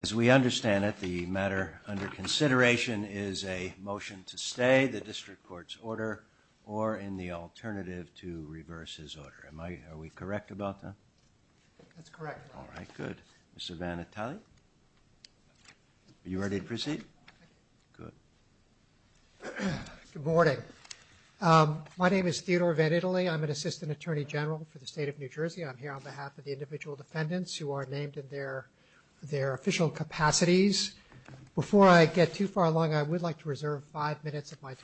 As we understand it, the matter under consideration is a motion to stay the district court's alternative to reverse his order. Am I, are we correct about that? That's correct. All right, good. Mr. Vannitali. You ready to proceed? Good. Good morning. My name is Theodore Vannitali. I'm an assistant attorney general for the state of New Jersey. I'm here on behalf of the individual defendants who are named in their, their official capacities. Before I get too far along, I would like to introduce my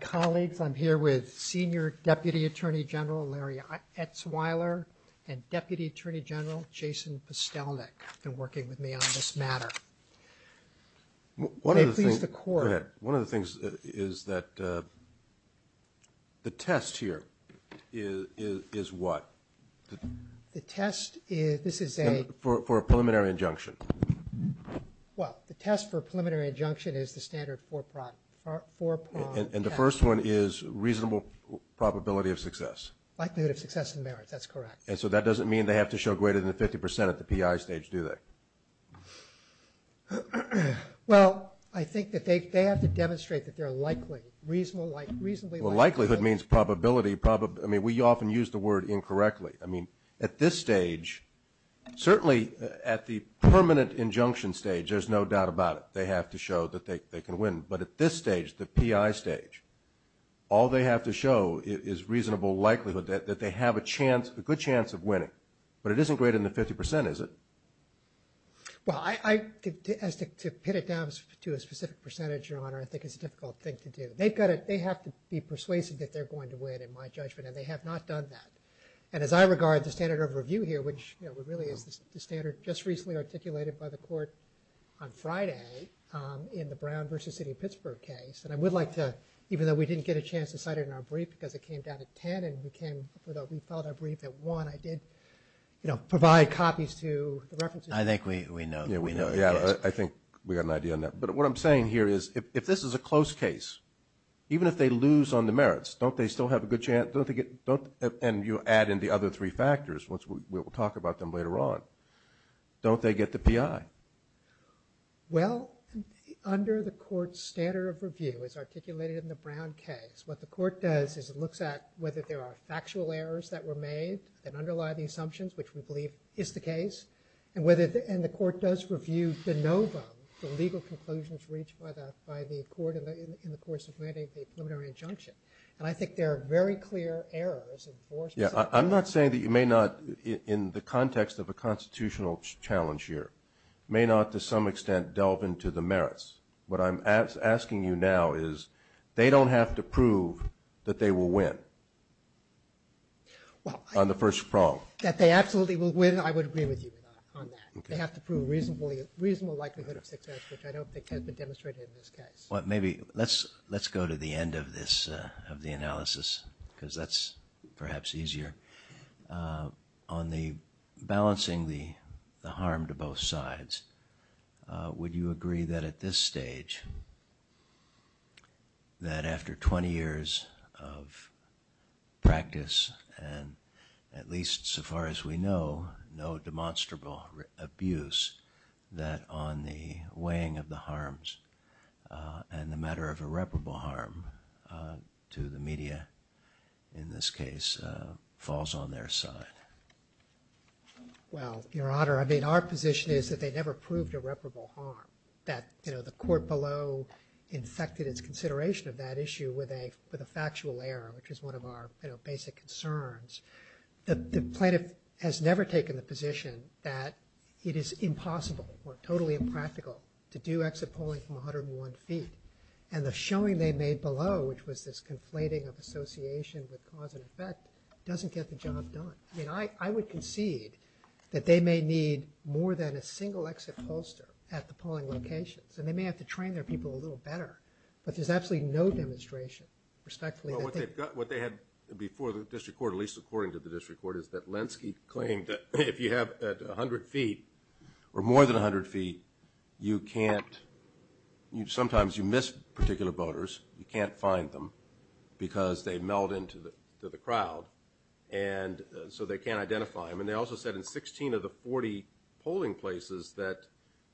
colleagues. I'm here with Senior Deputy Attorney General Larry Etzweiler and Deputy Attorney General Jason Postelnik and working with me on this matter. One of the things, go ahead, one of the things is that the test here is, is what? The test is, this is a, for a preliminary injunction. Well, the test for preliminary injunction is the standard four prime, four prime test. And the first one is reasonable probability of success. Likelihood of success and merits, that's correct. And so that doesn't mean they have to show greater than 50% at the P.I. stage, do they? Well, I think that they have to demonstrate that they're likely, reasonably likely. Well, likelihood means probability, probably, I mean, we often use the word incorrectly. I mean, at this stage, certainly at the permanent injunction stage, there's no doubt about it. They have to show that they can win. But at this stage, the P.I. stage, all they have to show is reasonable likelihood that they have a chance, a good chance of winning. But it isn't greater than 50%, is it? Well, I, as to pin it down to a specific percentage, Your Honor, I think it's a difficult thing to do. They've got to, they have to be persuasive that they're going to win, in my judgment, and they have not done that. And as I regard the standard of review here, which, you know, it really is the standard, just recently articulated, by the Court on Friday, in the Brown v. City of Pittsburgh case, and I would like to, even though we didn't get a chance to cite it in our brief, because it came down to 10, and we came, although we filed our brief at 1, I did, you know, provide copies to the references. I think we know, we know. Yeah, I think we got an idea on that. But what I'm saying here is, if this is a close case, even if they lose on the merits, don't they still have a good chance, don't they get, don't, and you add in the other three factors, which we'll talk about them later on, don't they get the API? Well, under the Court's standard of review, as articulated in the Brown case, what the Court does is it looks at whether there are factual errors that were made, that underlie the assumptions, which we believe is the case, and whether, and the Court does review de novo, the legal conclusions reached by the Court in the course of mandating the preliminary injunction. And I think there are very clear errors. Yeah, I'm not saying that you may not, in the context of a constitutional challenge here, may not to some extent delve into the merits. What I'm asking you now is, they don't have to prove that they will win on the first prong. That they absolutely will win, I would agree with you on that. They have to prove reasonable likelihood of success, which I don't think has been demonstrated in this case. Let's go to the end of the analysis, because that's perhaps easier. On the balancing the harm to both sides, would you agree that at this stage, that after 20 years of practice, and at least so far as we know, no demonstrable abuse, that on the weighing of the harms and the matter of irreparable harm to the media, in this case, falls on their side? Well, Your Honor, I mean, our position is that they never proved irreparable harm. That, you know, the Court below infected its consideration of that issue with a factual error, which is one of our, you know, basic concerns. The plaintiff has never taken the position that it is impossible or totally impractical to do exit polling from 101 feet. And the showing they made below, which was this conflating of association with cause and effect, doesn't get the job done. I mean, I would concede that they may need more than a single exit pollster at the polling locations. And they may have to train their people a little better. But there's absolutely no demonstration, respectfully. Well, what they had before the District Court, at least according to the District Court, is that Lenski claimed that if you have 100 feet or more than 100 feet, you can't, sometimes you miss particular voters, you can't find them because they meld into the crowd. And so they can't identify them. And they also said in 16 of the 40 polling places that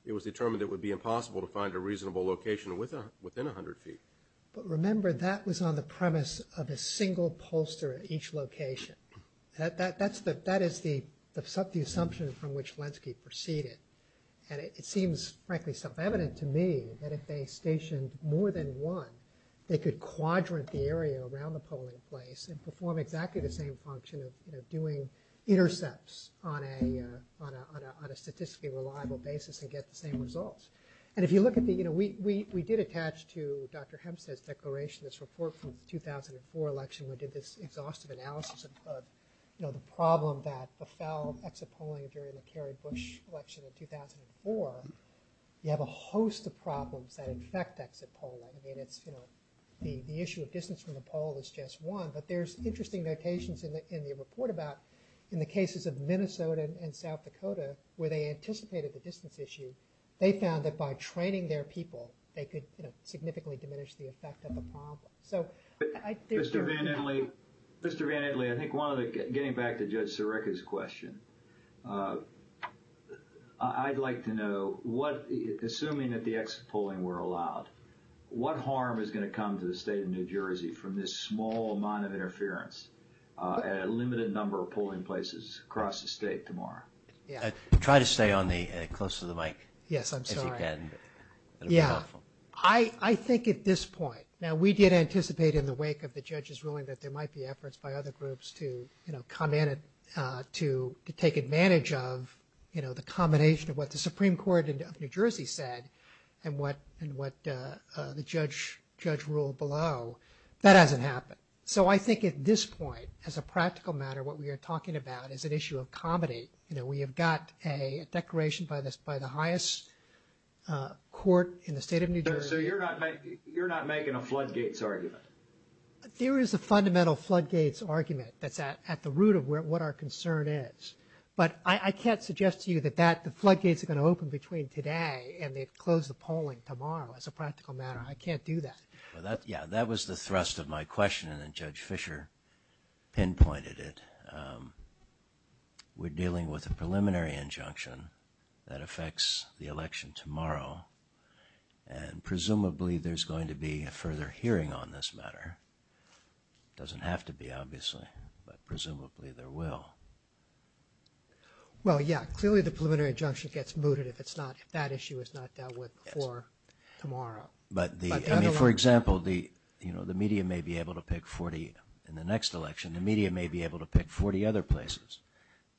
it was determined it would be impossible to find a reasonable location within 100 feet. But remember, that was on the premise of a single pollster at each location. That is the assumption from which Lenski proceeded. And it seems, frankly, self-evident to me that if they stationed more than one, they could quadrant the area around the polling place and perform exactly the same function of doing intercepts on a statistically reliable basis and get the same results. And if you look at the, you know, we did attach to Dr. Hempstead's declaration, this report from the 2004 election, we did this exhaustive analysis of, you know, the problem that befell exit polling during the Kerry-Bush election in 2004. You have a host of problems that affect exit polling. I mean, it's, you know, the issue of distance from the poll is just one. But there's interesting notations in the report about in the cases of Minnesota and South Dakota, where they anticipated the distance issue, they found that by training their people, they could significantly diminish the effect of the problem. Mr. Van Etley, Mr. Van Etley, I think one of the, getting back to Judge Sirica's question, I'd like to know what, assuming that the exit polling were allowed, what harm is going to come to the state of New Jersey from this small amount of interference at a limited number of polling places across the state tomorrow? Try to stay on the, close to the mic. Yes, I'm sorry. Yeah, I think at this point, now we did anticipate in the wake of the judge's ruling that there might be efforts by other groups to, you know, come in and to take advantage of, you know, the combination of what the Supreme Court of New Jersey said and what the judge ruled below. That hasn't happened. So I think at this point, as a practical matter, what we are talking about is an issue of comedy. You know, we have got a declaration by the highest court in the state of New Jersey. So you're not making a floodgates argument? There is a fundamental floodgates argument that's at the root of what our concern is. But I can't suggest to you that the floodgates are going to open between today and they'd close the polling tomorrow as a practical matter. I can't do that. Well, that, yeah, that was the thrust of my question and then Judge Fischer pinpointed it. We're dealing with a preliminary injunction that affects the election tomorrow. And presumably there's going to be a further hearing on this matter. Doesn't have to be, obviously, but presumably there will. Well, yeah, clearly the preliminary injunction gets mooted if it's not, if that issue is not dealt with before tomorrow. But the, I mean, for example, the, you know, the media may be able to pick 40 in the next election. The media may be able to pick 40 other places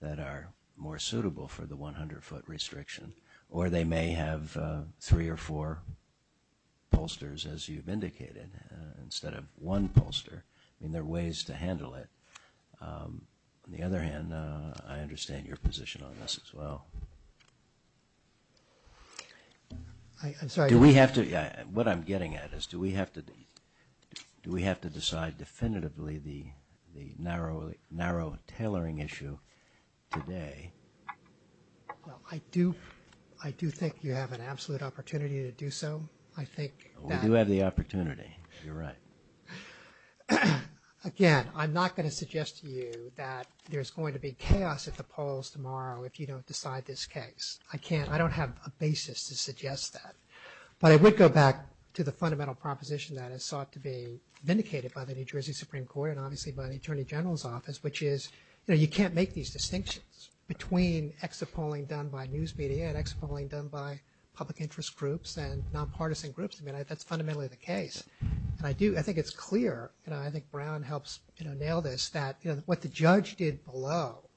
that are more suitable for the 100-foot restriction. Or they may have three or four pollsters, as you've indicated, instead of one pollster. I mean, there are ways to handle it. On the other hand, I understand your position on this as well. I'm sorry. Do we have to, what I'm getting at is do we have to decide definitively the narrow tailoring issue today? Well, I do think you have an absolute opportunity to do so. I think that. You're right. Again, I'm not going to suggest to you that there's going to be chaos at the polls tomorrow if you don't decide this case. I can't, I don't have a basis to suggest that. But I would go back to the fundamental proposition that is sought to be vindicated by the New Jersey Supreme Court and obviously by the Attorney General's Office, which is, you know, you can't make these distinctions between exit polling done by news media and exit polling done by public interest groups and nonpartisan groups. I mean, that's fundamentally the case. And I do, I think it's clear, and I think Brown helps, you know, nail this, that what the judge did below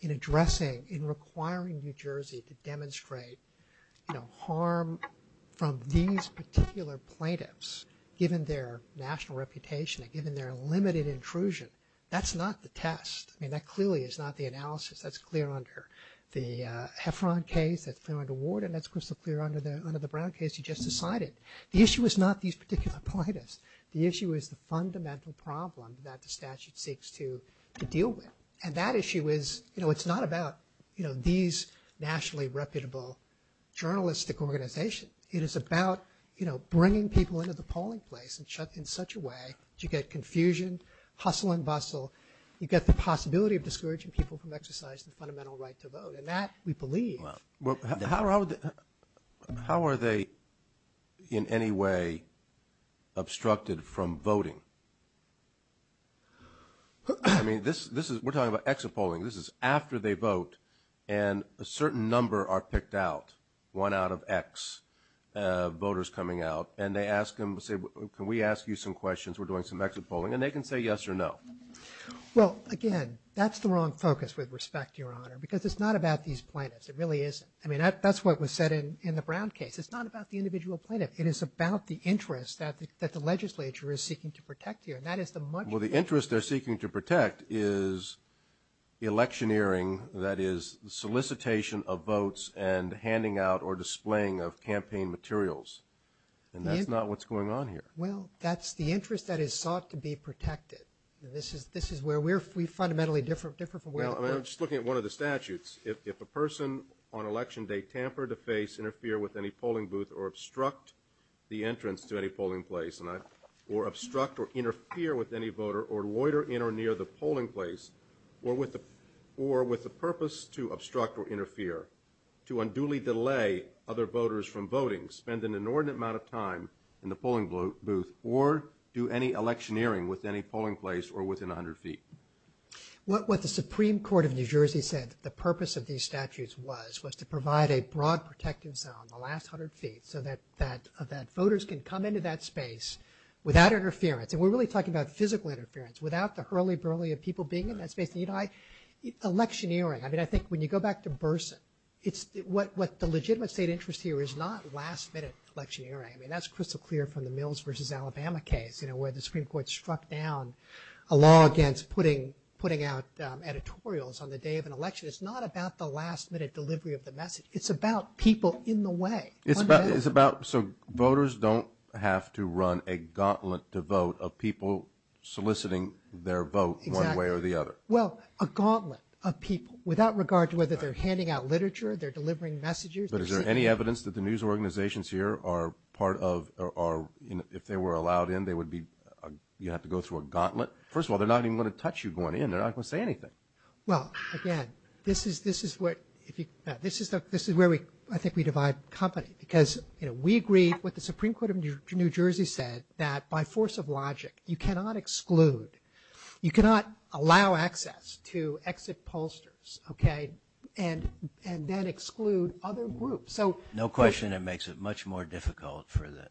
in addressing, in requiring New Jersey to demonstrate, you know, harm from these particular plaintiffs given their national reputation and given their limited intrusion, that's not the test. I mean, that clearly is not the analysis. That's clear under the Heffron case, that's clear under Warden, that's crystal clear under the Brown case you just decided. The issue is not these particular plaintiffs. The issue is the fundamental problem that the statute seeks to deal with. And that issue is, you know, it's not about, you know, these nationally reputable journalistic organizations. It is about, you know, bringing people into the polling place in such a way that you get confusion, hustle and bustle. You get the possibility of discouraging people from exercising the fundamental right to vote. And that, we believe. Well, how are they in any way obstructed from voting? I mean, this is, we're talking about exit polling. This is after they vote and a certain number are picked out, one out of X voters coming out, and they ask them, say, can we ask you some questions? We're doing some exit polling. And they can say yes or no. Well, again, that's the wrong focus, with respect, Your Honor, because it's not about these plaintiffs. It really isn't. I mean, that's what was said in the Brown case. It's not about the individual plaintiff. It is about the interest that the legislature is seeking to protect here. And that is the much more. Well, the interest they're seeking to protect is electioneering, that is solicitation of votes and handing out or displaying of campaign materials. And that's not what's going on here. Well, that's the interest that is sought to be protected. This is where we're fundamentally different from where it was. I'm just looking at one of the statutes. If a person on election day tamper, deface, interfere with any polling booth or obstruct the entrance to any polling place or obstruct or interfere with any voter or loiter in or near the polling place or with the purpose to obstruct or interfere, to unduly delay other voters from voting, spend an inordinate amount of time in the polling booth or do any electioneering with any polling place or within 100 feet. What the Supreme Court of New Jersey said the purpose of these statutes was was to provide a broad protective zone, the last 100 feet, so that voters can come into that space without interference. And we're really talking about physical interference, without the hurly-burly of people being in that space. Electioneering, I mean, I think when you go back to Burson, what the legitimate state interest here is not last minute electioneering. I mean, that's crystal clear from the Mills v. Alabama case, you know, where the Supreme Court struck down a law against putting out editorials on the day of an election. It's not about the last minute delivery of the message. It's about people in the way. It's about so voters don't have to run a gauntlet to vote of people soliciting their vote one way or the other. Exactly. Well, a gauntlet of people without regard to whether they're handing out literature, they're delivering messages. But is there any evidence that the news organizations here are part of if they were allowed in, you'd have to go through a gauntlet? First of all, they're not even going to touch you going in. They're not going to say anything. Well, again, this is where I think we divide company because, you know, we agreed with the Supreme Court of New Jersey said that by force of logic, you cannot exclude, you cannot allow access to exit pollsters, okay, and then exclude other groups. No question it makes it much more difficult for the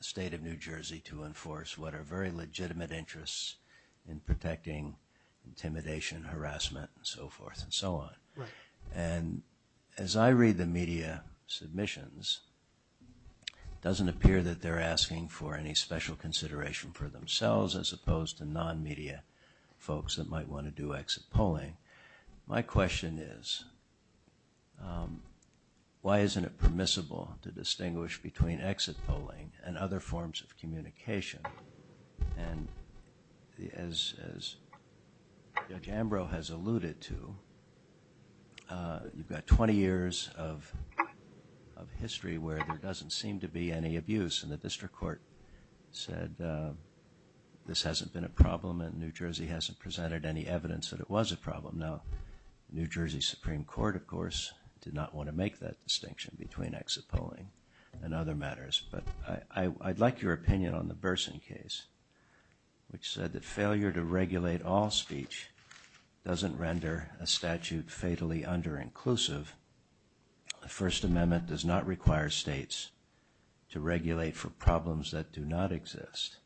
state of New Jersey to enforce what are very legitimate interests in protecting intimidation, harassment, and so forth and so on. And as I read the media submissions, it doesn't appear that they're asking for any special consideration for themselves as opposed to non-media folks that might want to do exit polling. My question is, why isn't it permissible to distinguish between exit polling and other forms of communication? And as Judge Ambrose has alluded to, you've got 20 years of history where there doesn't seem to be any abuse presented any evidence that it was a problem. Now, New Jersey Supreme Court, of course, did not want to make that distinction between exit polling and other matters. But I'd like your opinion on the Burson case, which said that failure to regulate all speech doesn't render a statute fatally under-inclusive. The First Amendment does not require states to regulate for problems that do not exist.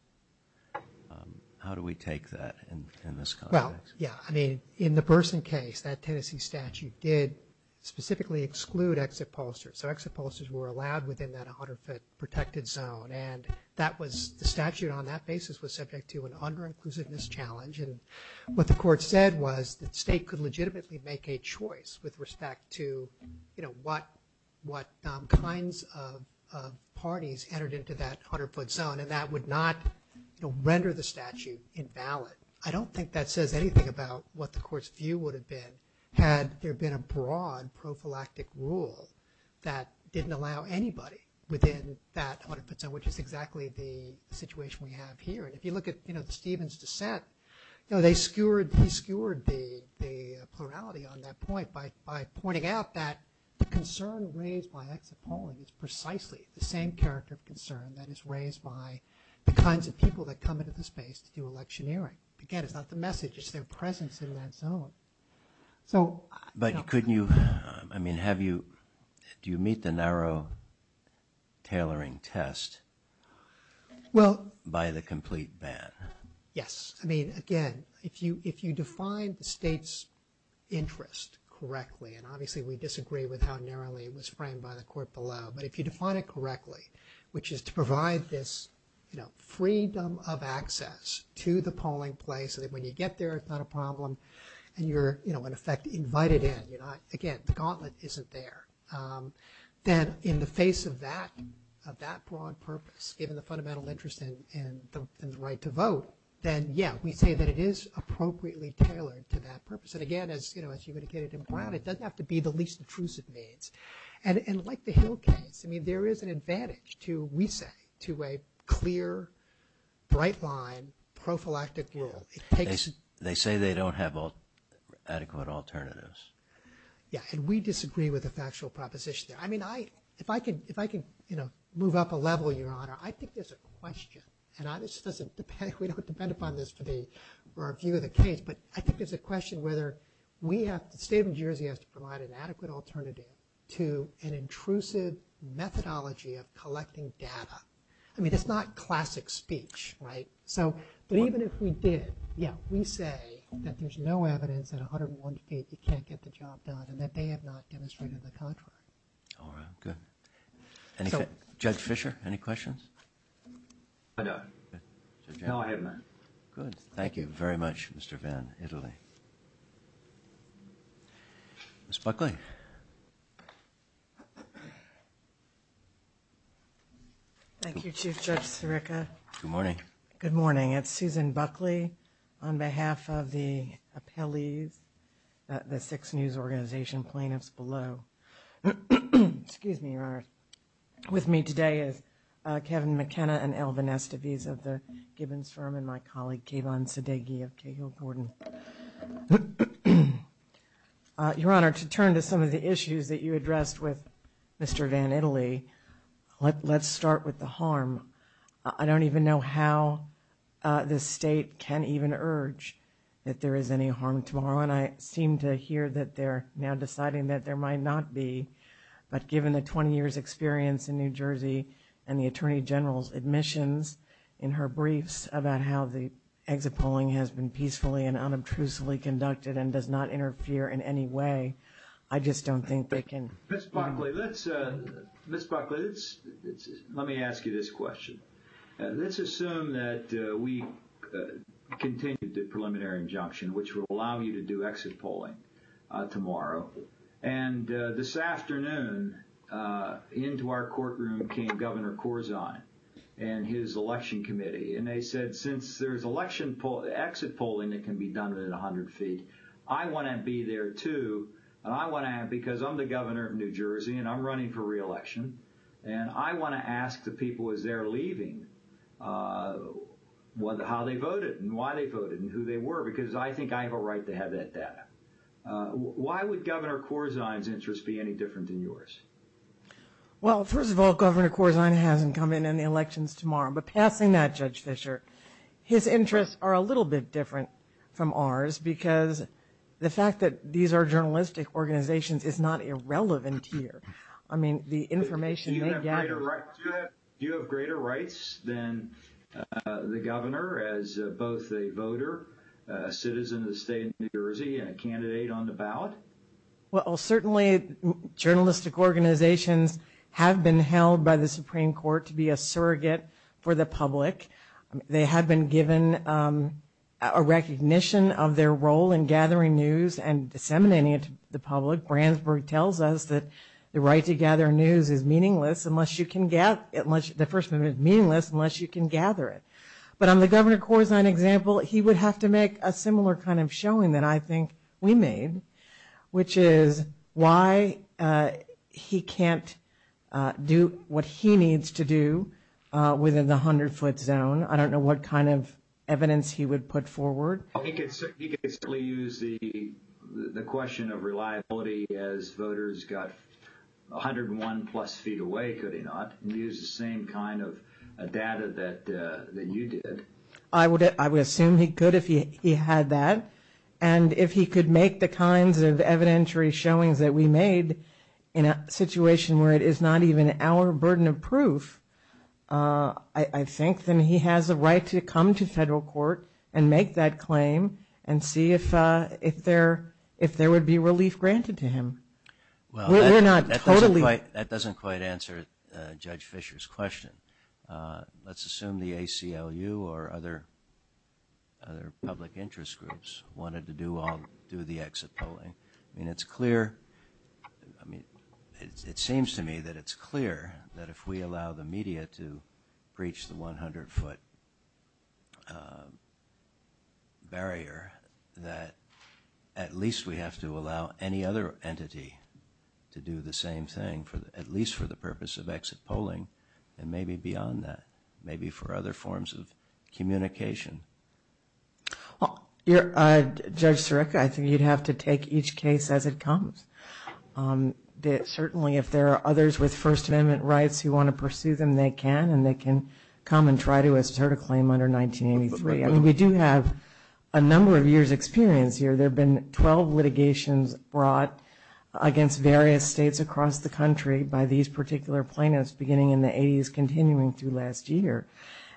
How do we take that in this context? Well, yeah. I mean, in the Burson case, that Tennessee statute did specifically exclude exit pollsters. So exit pollsters were allowed within that 100-foot protected zone. And that was the statute on that basis was subject to an under-inclusiveness challenge. And what the court said was that the state could legitimately make a choice with respect to, you know, what kinds of parties entered into that 100-foot zone. And that would not, you know, render the statute invalid. I don't think that says anything about what the court's view would have been had there been a broad prophylactic rule that didn't allow anybody within that 100-foot zone, which is exactly the situation we have here. And if you look at, you know, Stephen's dissent, you know, he skewered the plurality on that point by pointing out that the concern raised by exit polling is precisely the same character of concern that is raised by the kinds of people that come into the space to do electioneering. Again, it's not the message, it's their presence in that zone. So... But couldn't you, I mean, have you, do you meet the narrow tailoring test by the complete ban? Yes. I mean, again, if you define the state's interest correctly, and obviously we disagree with how narrowly it was framed by the court below, but if you define it correctly, which is to provide this, you know, freedom of access to the polling place so that when you get there, it's not a problem and you're, you know, in effect invited in, you're not, again, the gauntlet isn't there. Then in the face of that, of that broad purpose, given the fundamental interest in the right to vote, then, yeah, we say that it is appropriately tailored to that purpose. And again, as, you know, as you would get it in Brown, it doesn't have to be the least intrusive means. And like the Hill case, I mean, there is an advantage to, we say, to a clear, bright line, prophylactic rule. They say they don't have adequate alternatives. Yeah. And we disagree with the factual proposition there. I mean, I, if I can, if I can, you know, move up a level, Your Honor, I think there's a question, and I just, we don't depend upon this for the review of the case, but I think there's a question whether we have, the State of New Jersey has to provide an adequate alternative to an intrusive methodology of collecting data. I mean, it's not classic speech, right? So, but even if we did, yeah, we say that there's no evidence that 101 feet, you can't get the job done, and that they have not demonstrated the contrary. All right, good. And Judge Fischer, any questions? I don't. No, I haven't. Good. Thank you very much, Mr. Vann, Italy. Ms. Buckley. Thank you, Chief Judge Sirica. Good morning. Good morning. It's Susan Buckley on behalf of the appellees, the six news organization plaintiffs below. Excuse me, Your Honor. With me today is Kevin McKenna and Alvin Estoviz of the Gibbons firm and my colleague Kayvon Sadeghi of Cahill Gordon. Your Honor, to turn to some of the issues that you addressed with Mr. Vann, Italy, let's start with the harm. I don't even know how the State can even urge that there is any harm tomorrow, and I seem to hear that they're now deciding that there might not be, but given the 20 years' experience in New Jersey and the Attorney General's admissions in her briefs about how the exit polling has been peacefully and unobtrusively conducted and does not interfere in any way, I just don't think they can. Ms. Buckley, let me ask you this question. Let's assume that we continue the preliminary injunction, which will allow you to do exit polling tomorrow, and this afternoon into our courtroom came Governor Corzine and his election committee, and they said since there's exit polling that can be done at 100 feet, I want to be there too because I'm the governor of New Jersey and I'm running for reelection, and I want to ask the people as they're leaving how they voted and why they voted and who they were because I think I have a right to have that data. Why would Governor Corzine's interests be any different than yours? Well, first of all, Governor Corzine hasn't come in on the elections tomorrow, but passing that, Judge Fischer, his interests are a little bit different from ours because the fact that these are journalistic organizations is not irrelevant here. I mean, the information they gather— Do you have greater rights than the governor as both a voter, a citizen of the state of New Jersey, and a candidate on the ballot? Well, certainly journalistic organizations have been held by the Supreme Court to be a surrogate for the public. They have been given a recognition of their role in gathering news and disseminating it to the public. Brandsburg tells us that the right to gather news is meaningless unless you can gather it. But on the Governor Corzine example, he would have to make a similar kind of showing that I think we made, which is why he can't do what he needs to do within the 100-foot zone. I don't know what kind of evidence he would put forward. He could certainly use the question of reliability as voters got 101-plus feet away, could he not, and use the same kind of data that you did. I would assume he could if he had that. And if he could make the kinds of evidentiary showings that we made in a situation where it is not even our burden of proof, I think then he has a right to come to federal court and make that claim and see if there would be relief granted to him. Well, that doesn't quite answer Judge Fischer's question. Let's assume the ACLU or other public interest groups wanted to do the exit polling. It seems to me that it's clear that if we allow the media to breach the 100-foot barrier, that at least we have to allow any other entity to do the same thing, at least for the purpose of exit polling and maybe beyond that, maybe for other forms of communication. Well, Judge Sarek, I think you'd have to take each case as it comes. Certainly if there are others with First Amendment rights who want to pursue them, they can, and they can come and try to assert a claim under 1983. I mean, we do have a number of years' experience here. There have been 12 litigations brought against various states across the country by these particular plaintiffs beginning in the 80s, continuing through last year,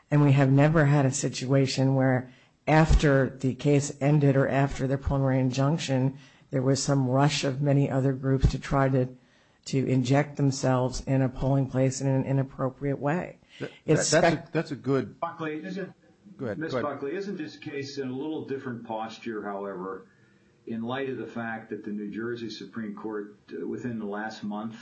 and we have never had a situation where after the case ended or after their plenary injunction, there was some rush of many other groups to try to inject themselves in a polling place in an inappropriate way. That's a good— Ms. Buckley, isn't this case in a little different posture, however, in light of the fact that the New Jersey Supreme Court within the last month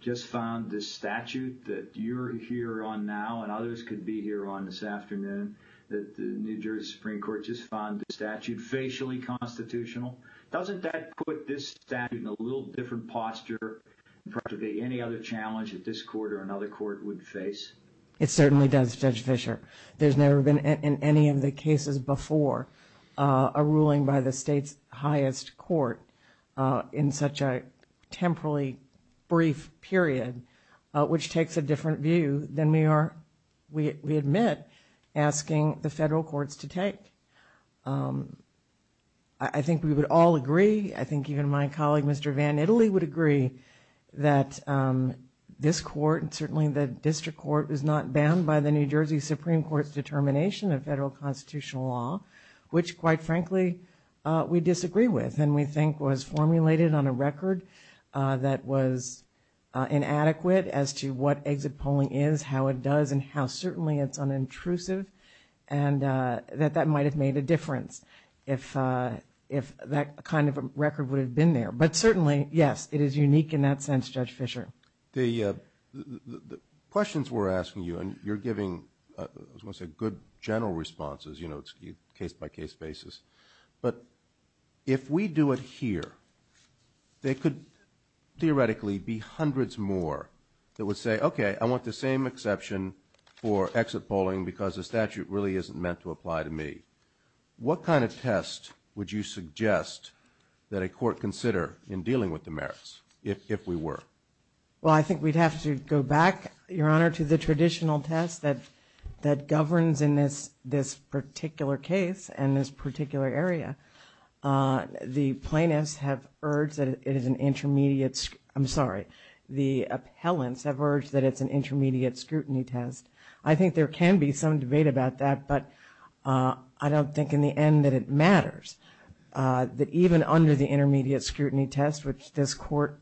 just found this statute that you're here on now and others could be here on this afternoon, that the New Jersey Supreme Court just found this statute facially constitutional, doesn't that put this statute in a little different posture than practically any other challenge that this court or another court would face? It certainly does, Judge Fischer. There's never been in any of the cases before a ruling by the state's highest court in such a temporally brief period, which takes a different view than we are, we admit, asking the federal courts to take. I think we would all agree. I think even my colleague, Mr. Van Italy, would agree that this court, and certainly the district court, is not bound by the New Jersey Supreme Court's determination of federal constitutional law, which quite frankly we disagree with and we think was formulated on a record that was inadequate as to what exit polling is, how it does, and how certainly it's unintrusive, and that that might have made a difference if that kind of a record would have been there. But certainly, yes, it is unique in that sense, Judge Fischer. The questions we're asking you, and you're giving, I was going to say, good general responses, you know, case-by-case basis, but if we do it here, there could theoretically be hundreds more that would say, okay, I want the same exception for exit polling because the statute really isn't meant to apply to me. What kind of test would you suggest that a court consider in dealing with the merits, if we were? Well, I think we'd have to go back, Your Honor, to the traditional test that governs in this particular case and this particular area. The plaintiffs have urged that it is an intermediate, I'm sorry, the appellants have urged that it's an intermediate scrutiny test. I think there can be some debate about that, but I don't think in the end that it matters. That even under the intermediate scrutiny test, which this court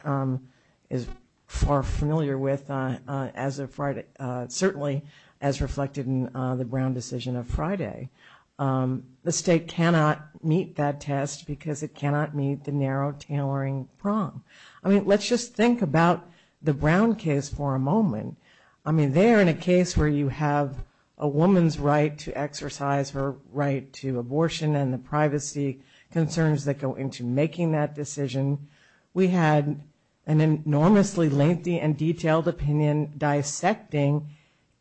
is far familiar with as of Friday, certainly as reflected in the Brown decision of Friday, the state cannot meet that test because it cannot meet the narrow tailoring prong. I mean, let's just think about the Brown case for a moment. I mean, there in a case where you have a woman's right to exercise her right to abortion and the privacy concerns that go into making that decision, we had an enormously lengthy and detailed opinion dissecting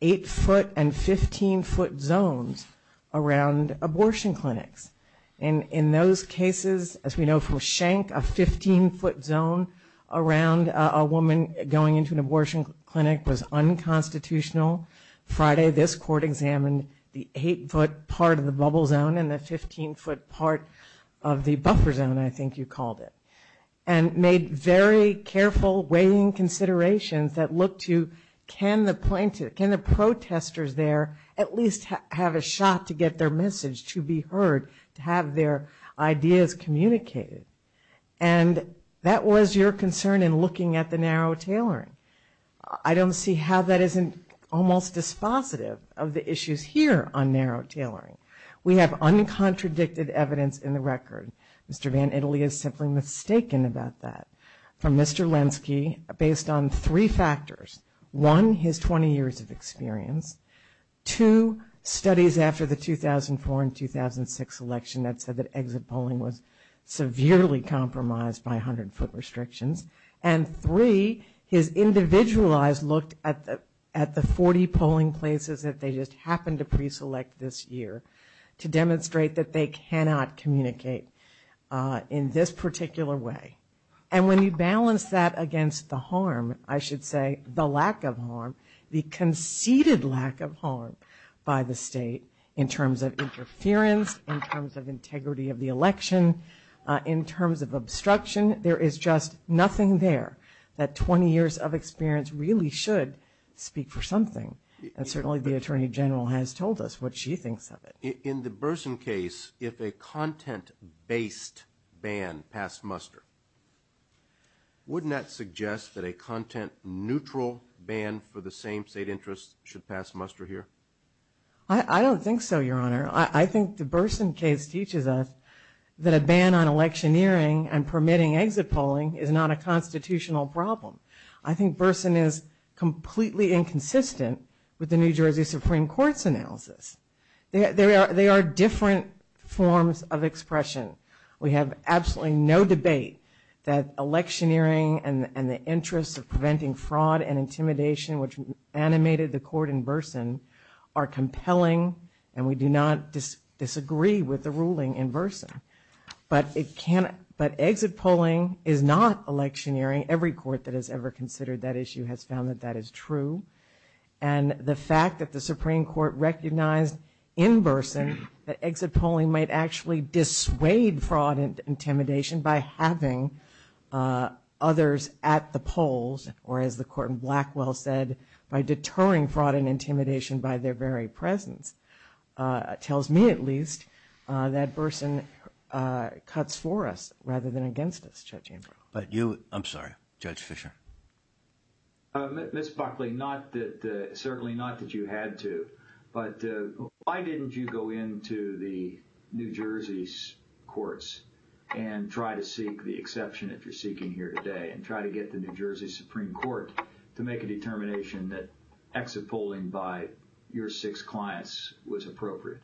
8-foot and 15-foot zones around abortion clinics. And in those cases, as we know from Schenck, a 15-foot zone around a woman going into an abortion clinic was unconstitutional. Friday, this court examined the 8-foot part of the bubble zone and the 15-foot part of the buffer zone, I think you called it, and made very careful weighing considerations that look to can the plaintiff, can the protesters there at least have a shot to get their message to be heard, to have their ideas communicated. And that was your concern in looking at the narrow tailoring. I don't see how that isn't almost dispositive of the issues here on narrow tailoring. We have uncontradicted evidence in the record. Mr. VanItaly is simply mistaken about that. From Mr. Lenski, based on three factors, one, his 20 years of experience, two, studies after the 2004 and 2006 election that said that exit polling was severely compromised by 100-foot restrictions, and three, his individualized look at the 40 polling places that they just happened to pre-select this year to demonstrate that they cannot communicate in this particular way. And when you balance that against the harm, I should say the lack of harm, the conceded lack of harm by the state in terms of interference, in terms of integrity of the election, in terms of obstruction, there is just nothing there that 20 years of experience really should speak for something. And certainly the Attorney General has told us what she thinks of it. In the Burson case, if a content-based ban passed muster, wouldn't that suggest that a content-neutral ban for the same state interests should pass muster here? I don't think so, Your Honor. I think the Burson case teaches us that a ban on electioneering and permitting exit polling is not a constitutional problem. I think Burson is completely inconsistent with the New Jersey Supreme Court's analysis. They are different forms of expression. We have absolutely no debate that electioneering and the interests of preventing fraud and intimidation, which animated the court in Burson, are compelling, and we do not disagree with the ruling in Burson. But exit polling is not electioneering. Every court that has ever considered that issue has found that that is true. And the fact that the Supreme Court recognized in Burson that exit polling might actually dissuade fraud and intimidation by having others at the polls, or as the court in Blackwell said, by deterring fraud and intimidation by their very presence, tells me at least that Burson cuts for us rather than against us, Judge Amber. But you, I'm sorry, Judge Fischer. Ms. Buckley, certainly not that you had to, but why didn't you go into the New Jersey's courts and try to seek the exception that you're seeking here today and try to get the New Jersey Supreme Court to make a determination that exit polling by your six clients was appropriate?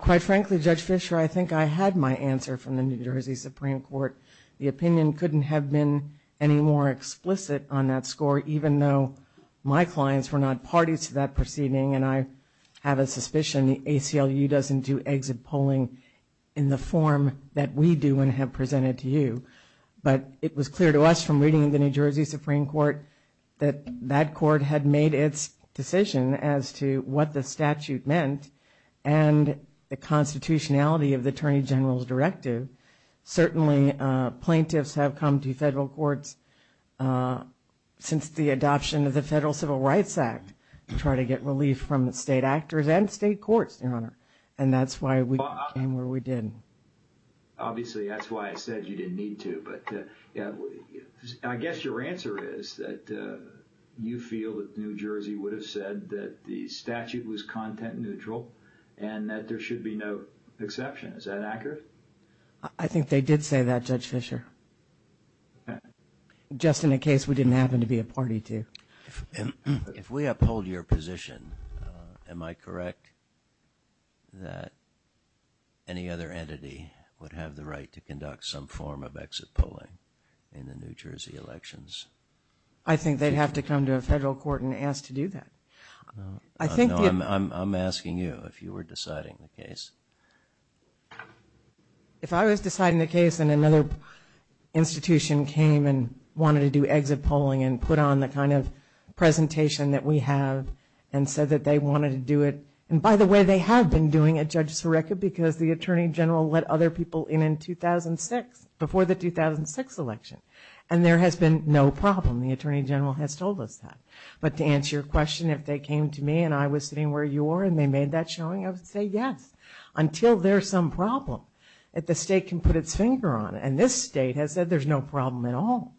Quite frankly, Judge Fischer, I think I had my answer from the New Jersey Supreme Court. The opinion couldn't have been any more explicit on that score, even though my clients were not parties to that proceeding, and I have a suspicion the ACLU doesn't do exit polling in the form that we do and have presented to you. But it was clear to us from reading the New Jersey Supreme Court that that court had made its decision as to what the statute meant and the constitutionality of the Attorney General's directive. Certainly plaintiffs have come to federal courts since the adoption of the Federal Civil Rights Act to try to get relief from the state actors and state courts, Your Honor, and that's why we came where we did. Obviously, that's why I said you didn't need to, but I guess your answer is that you feel that New Jersey would have said that the statute was content neutral and that there should be no exception. Is that accurate? I think they did say that, Judge Fischer, just in a case we didn't happen to be a party to. If we uphold your position, am I correct that any other entity would have the right to conduct some form of exit polling in the New Jersey elections? I think they'd have to come to a federal court and ask to do that. I'm asking you if you were deciding the case. If I was deciding the case and another institution came and wanted to do exit polling and put on the kind of presentation that we have and said that they wanted to do it, and by the way, they have been doing it, Judge Sareka, because the Attorney General let other people in in 2006, before the 2006 election, and there has been no problem. The Attorney General has told us that. But to answer your question, if they came to me and I was sitting where you were and they made that showing, I would say yes, until there's some problem that the state can put its finger on. And this state has said there's no problem at all.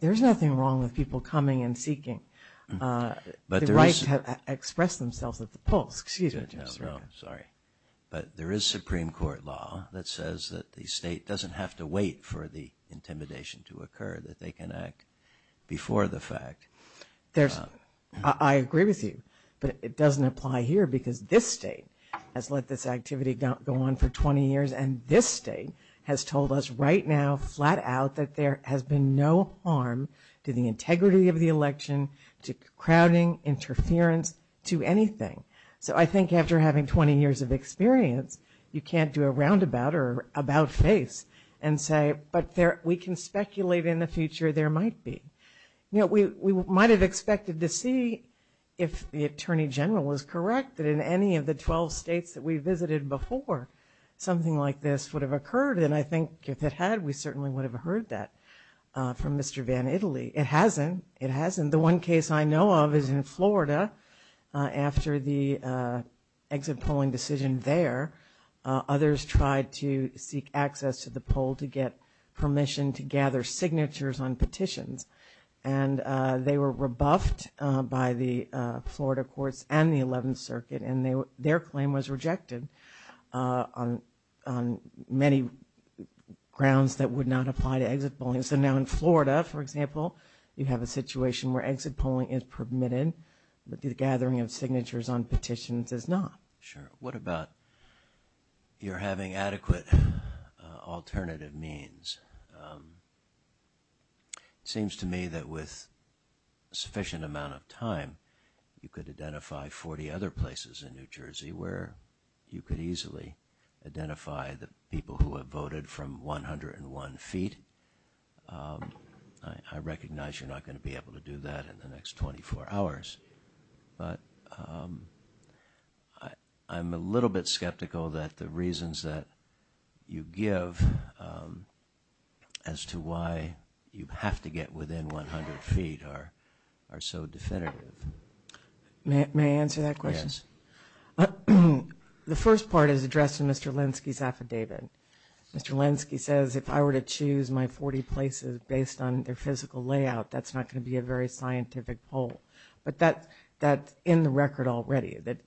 There's nothing wrong with people coming and seeking the right to express themselves at the polls. Excuse me, Judge Sareka. No, no, sorry. But there is Supreme Court law that says that the state doesn't have to wait for the intimidation to occur, that they can act before the fact. There's, I agree with you, but it doesn't apply here because this state has let this activity go on for 20 years and this state has told us right now, flat out, that there has been no harm to the integrity of the election, to crowding, interference, to anything. So I think after having 20 years of experience, you can't do a roundabout or about face and say, but we can speculate in the future there might be. We might have expected to see if the Attorney General was correct, that in any of the 12 states that we visited before, something like this would have occurred. And I think if it had, we certainly would have heard that from Mr. Van Italy. It hasn't, it hasn't. The one case I know of is in Florida, after the exit polling decision there, others tried to seek access to the poll to get permission to gather signatures on petitions. And they were rebuffed by the Florida courts and the 11th Circuit and their claim was rejected on many grounds that would not apply to exit polling. So now in Florida, for example, you have a situation where exit polling is permitted, but the gathering of signatures on petitions is not. Sure. What about your having adequate alternative means? It seems to me that with sufficient amount of time, you could identify 40 other places in New Jersey where you could easily identify the people who have voted from 101 feet. I recognize you're not going to be able to do that in the next 24 hours, but I'm a little bit skeptical that the reasons that you give as to why you have to get within 100 feet are so definitive. May I answer that question? Yes. The first part is addressed in Mr. Lenski's affidavit. Mr. Lenski says if I were to choose my 40 places based on their physical layout, that's not going to be a very scientific poll. But that's in the record already, that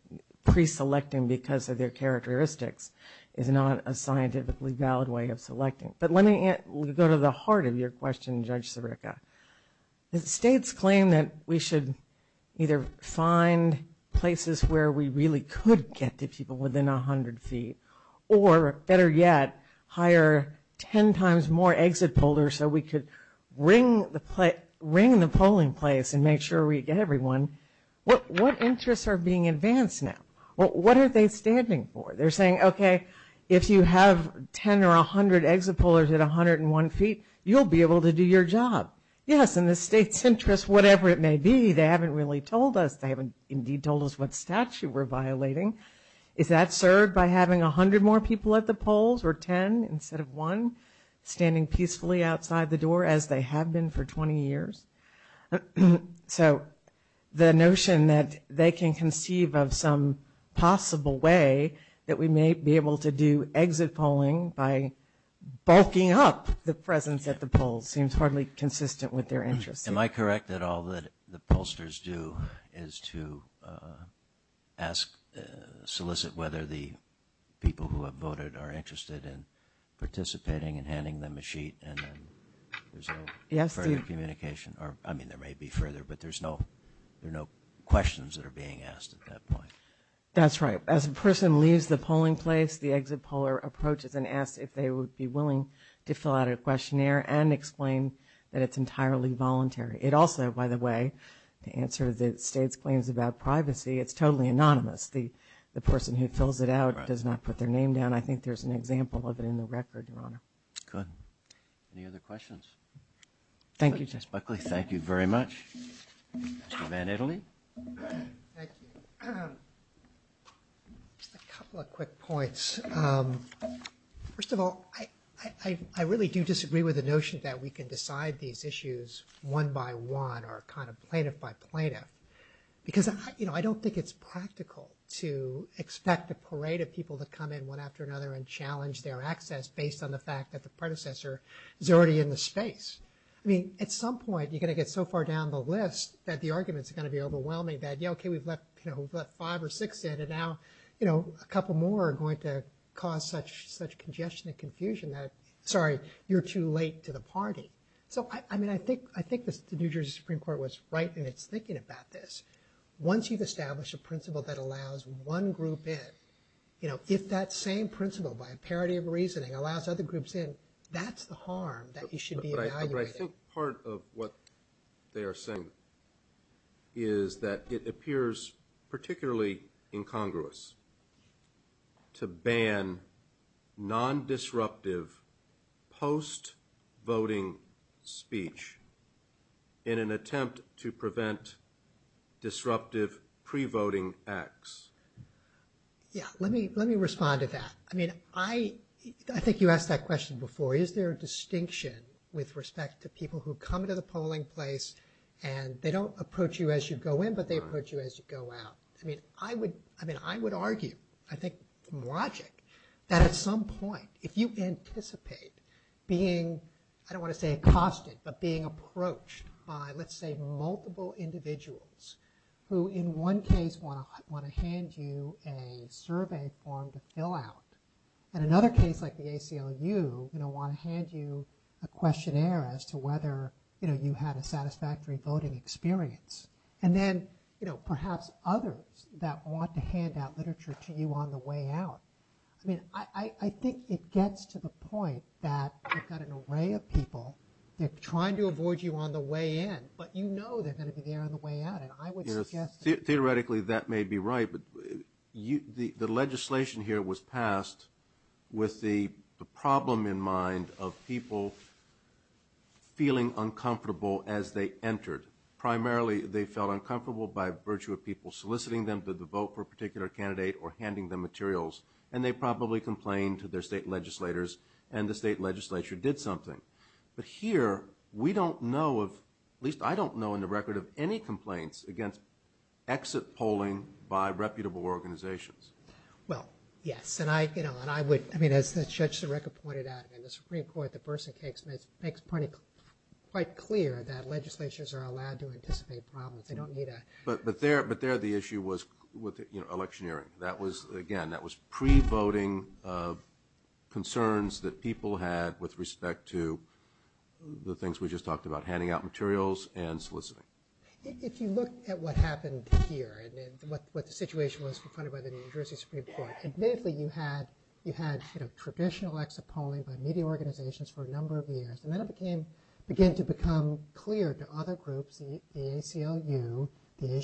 pre-selecting because of their characteristics is not a scientifically valid way of selecting. But let me go to the heart of your question, Judge Sirica. The states claim that we should either find places where we really could get to people within 100 feet, or better yet, hire 10 times more exit pollers so we could ring the polling place and make sure we get everyone. What interests are being advanced now? What are they standing for? They're saying, okay, if you have 10 or 100 exit pollers at 101 feet, you'll be able to do your job. Yes, in the state's interest, whatever it may be, they haven't really told us. They haven't indeed told us what statute we're violating. Is that served by having 100 more people at the polls or 10 instead of 1 standing peacefully outside the door, as they have been for 20 years? So the notion that they can conceive of some possible way that we may be able to do exit polling by bulking up the presence at the polls seems hardly consistent with their interest. Am I correct that all that the pollsters do is to solicit whether the people who have voted are interested in participating and handing them a sheet and then there's no further communication? I mean, there may be further, but there are no questions that are being asked at that point. That's right. As a person leaves the polling place, the exit poller approaches and asks if they would be willing to fill out a questionnaire and explain that it's entirely voluntary. It also, by the way, to answer the state's claims about privacy, it's totally anonymous. The person who fills it out does not put their name down. And I think there's an example of it in the record, Your Honor. Good. Any other questions? Thank you, Justice Buckley. Thank you very much. Mr. Van Italy? Thank you. Just a couple of quick points. First of all, I really do disagree with the notion that we can decide these issues one by one or kind of plaintiff by plaintiff because I don't think it's practical to expect a parade of people to come in one after another and challenge their access based on the fact that the predecessor is already in the space. I mean, at some point, you're going to get so far down the list that the arguments are going to be overwhelming that, yeah, okay, we've left five or six in, and now a couple more are going to cause such congestion and confusion that, sorry, you're too late to the party. So, I mean, I think the New Jersey Supreme Court was right in its thinking about this. Once you've established a principle that allows one group in, if that same principle by a parody of reasoning allows other groups in, that's the harm that you should be evaluating. But I think part of what they are saying is that it appears particularly incongruous to ban non-disruptive post-voting speech in an attempt to prevent disruptive pre-voting acts. Yeah, let me respond to that. I mean, I think you asked that question before. Is there a distinction with respect to people who come to the polling place and they don't approach you as you go in, but they approach you as you go out? I mean, I would argue, I think, from logic, that at some point, if you anticipate being, I don't want to say accosted, but being approached by, let's say, multiple individuals who, in one case, want to hand you a survey form to fill out, and another case like the ACLU, you know, want to hand you a questionnaire as to whether, you know, you had a satisfactory voting experience. And then, you know, perhaps others that want to hand out literature to you on the way out. I mean, I think it gets to the point that you've got an array of people that are trying to avoid you on the way in, but you know they're going to be there on the way out, and I would suggest... Theoretically, that may be right, but the legislation here was passed with the problem in mind of people feeling uncomfortable as they entered. Primarily, they felt uncomfortable by virtue of people soliciting them to vote for a particular candidate or handing them materials, and they probably complained to their state legislators, and the state legislature did something. But here, we don't know of, at least I don't know in the record, of any complaints against exit polling by reputable organizations. Well, yes, and I, you know, and I would, I mean, as Judge Sereca pointed out, in the Supreme Court, the person makes it quite clear that legislatures are allowed to anticipate problems. They don't need a... But there, the issue was electioneering. That was, again, that was pre-voting concerns that people had with respect to the things we just talked about, handing out materials and soliciting. If you look at what happened here and what the situation was confronted by the New Jersey Supreme Court, admittedly, you had traditional exit polling by media organizations for a number of years, and then it began to become clear to other groups, the ACLU, the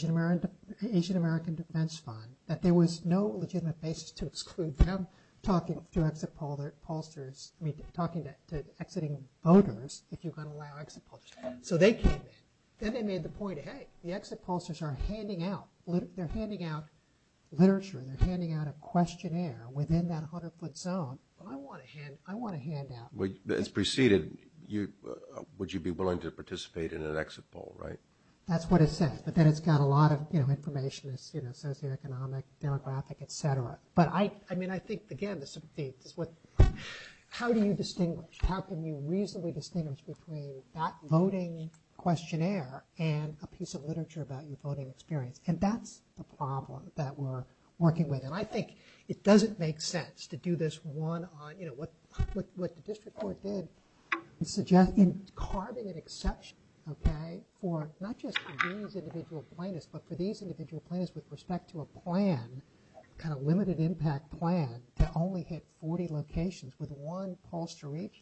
Asian American Defense Fund, that there was no legitimate basis to exclude them talking to exit pollsters, I mean, talking to exiting voters if you're going to allow exit pollsters. So they came in. Then they made the point, hey, the exit pollsters are handing out, they're handing out literature, they're handing out a questionnaire within that 100-foot zone. I want a handout. As preceded, would you be willing to participate in an exit poll, right? That's what it said, but then it's got a lot of information, socioeconomic, demographic, et cetera. But, I mean, I think, again, how do you distinguish? How can you reasonably distinguish between that voting questionnaire and a piece of literature about your voting experience? And that's the problem that we're working with. And I think it doesn't make sense to do this one-on, what the district court did in carving an exception, okay, for not just these individual plaintiffs, but for these individual plaintiffs with respect to a plan, kind of limited impact plan that only hit 40 locations with one pollster each.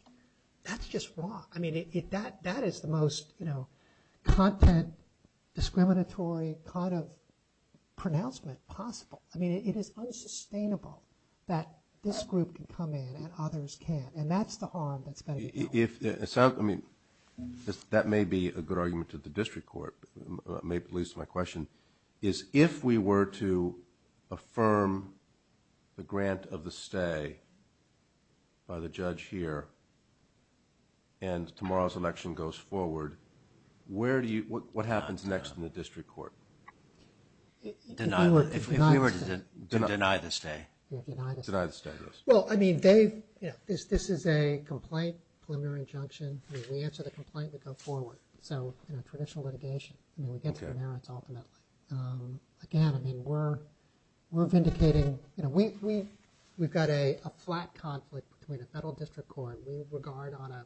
That's just wrong. I mean, that is the most content discriminatory kind of pronouncement possible. I mean, it is unsustainable that this group can come in and others can't. And that's the harm that's going to be caused. I mean, that may be a good argument to the district court. It leads to my question, is if we were to affirm the grant of the stay by the judge here and tomorrow's election goes forward, what happens next in the district court? If we were to deny the stay. Deny the stay, yes. Well, I mean, Dave, this is a complaint, preliminary injunction. We answer the complaint, we go forward. So, you know, traditional litigation, I mean, we get to the merits ultimately. Again, I mean, we're vindicating, you know, we've got a flat conflict between a federal district court, we regard on a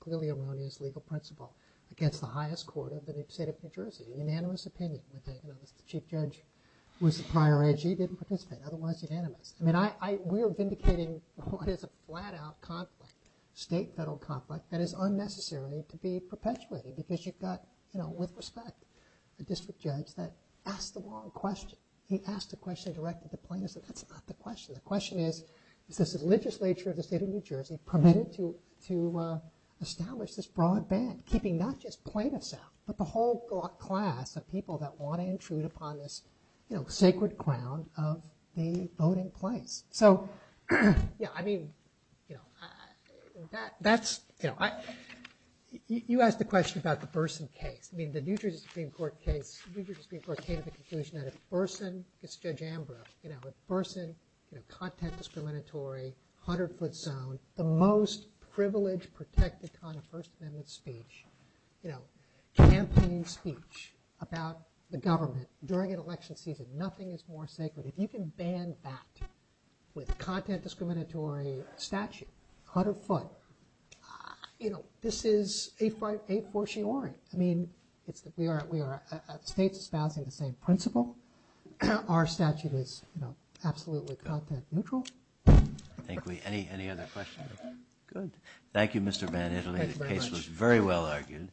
clearly erroneous legal principle against the highest court of the state of New Jersey, unanimous opinion with the chief judge who was the prior edge. He didn't participate, otherwise unanimous. I mean, we are vindicating what is a flat-out conflict, state-federal conflict that is unnecessary to be perpetuated because you've got, you know, with respect, a district judge that asked the wrong question. He asked a question directed to plaintiffs, and that's not the question. The question is, is this legislature of the state of New Jersey permitted to establish this broad ban, keeping not just plaintiffs out, but the whole class of people that want to intrude upon this, you know, sacred ground of the voting place. So, yeah, I mean, you know, that's, you know, you asked the question about the Burson case. I mean, the New Jersey Supreme Court case, the New Jersey Supreme Court came to the conclusion that if Burson, it's Judge Ambro, you know, if Burson, you know, content discriminatory, 100-foot zone, the most privileged protected kind of First Amendment speech, you know, campaign speech about the government during an election season, nothing is more sacred. If you can ban that with content discriminatory statute, 100-foot, you know, this is a fortiori. I mean, we are states espousing the same principle. Our statute is, you know, absolutely content neutral. I think we, any other questions? Good. Thank you, Mr. VanItaly. Thank you very much. As we all argued,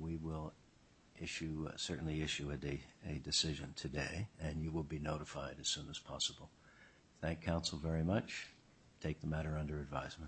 we will issue, certainly issue a decision today, and you will be notified as soon as possible. Thank counsel very much. Take the matter under advisement.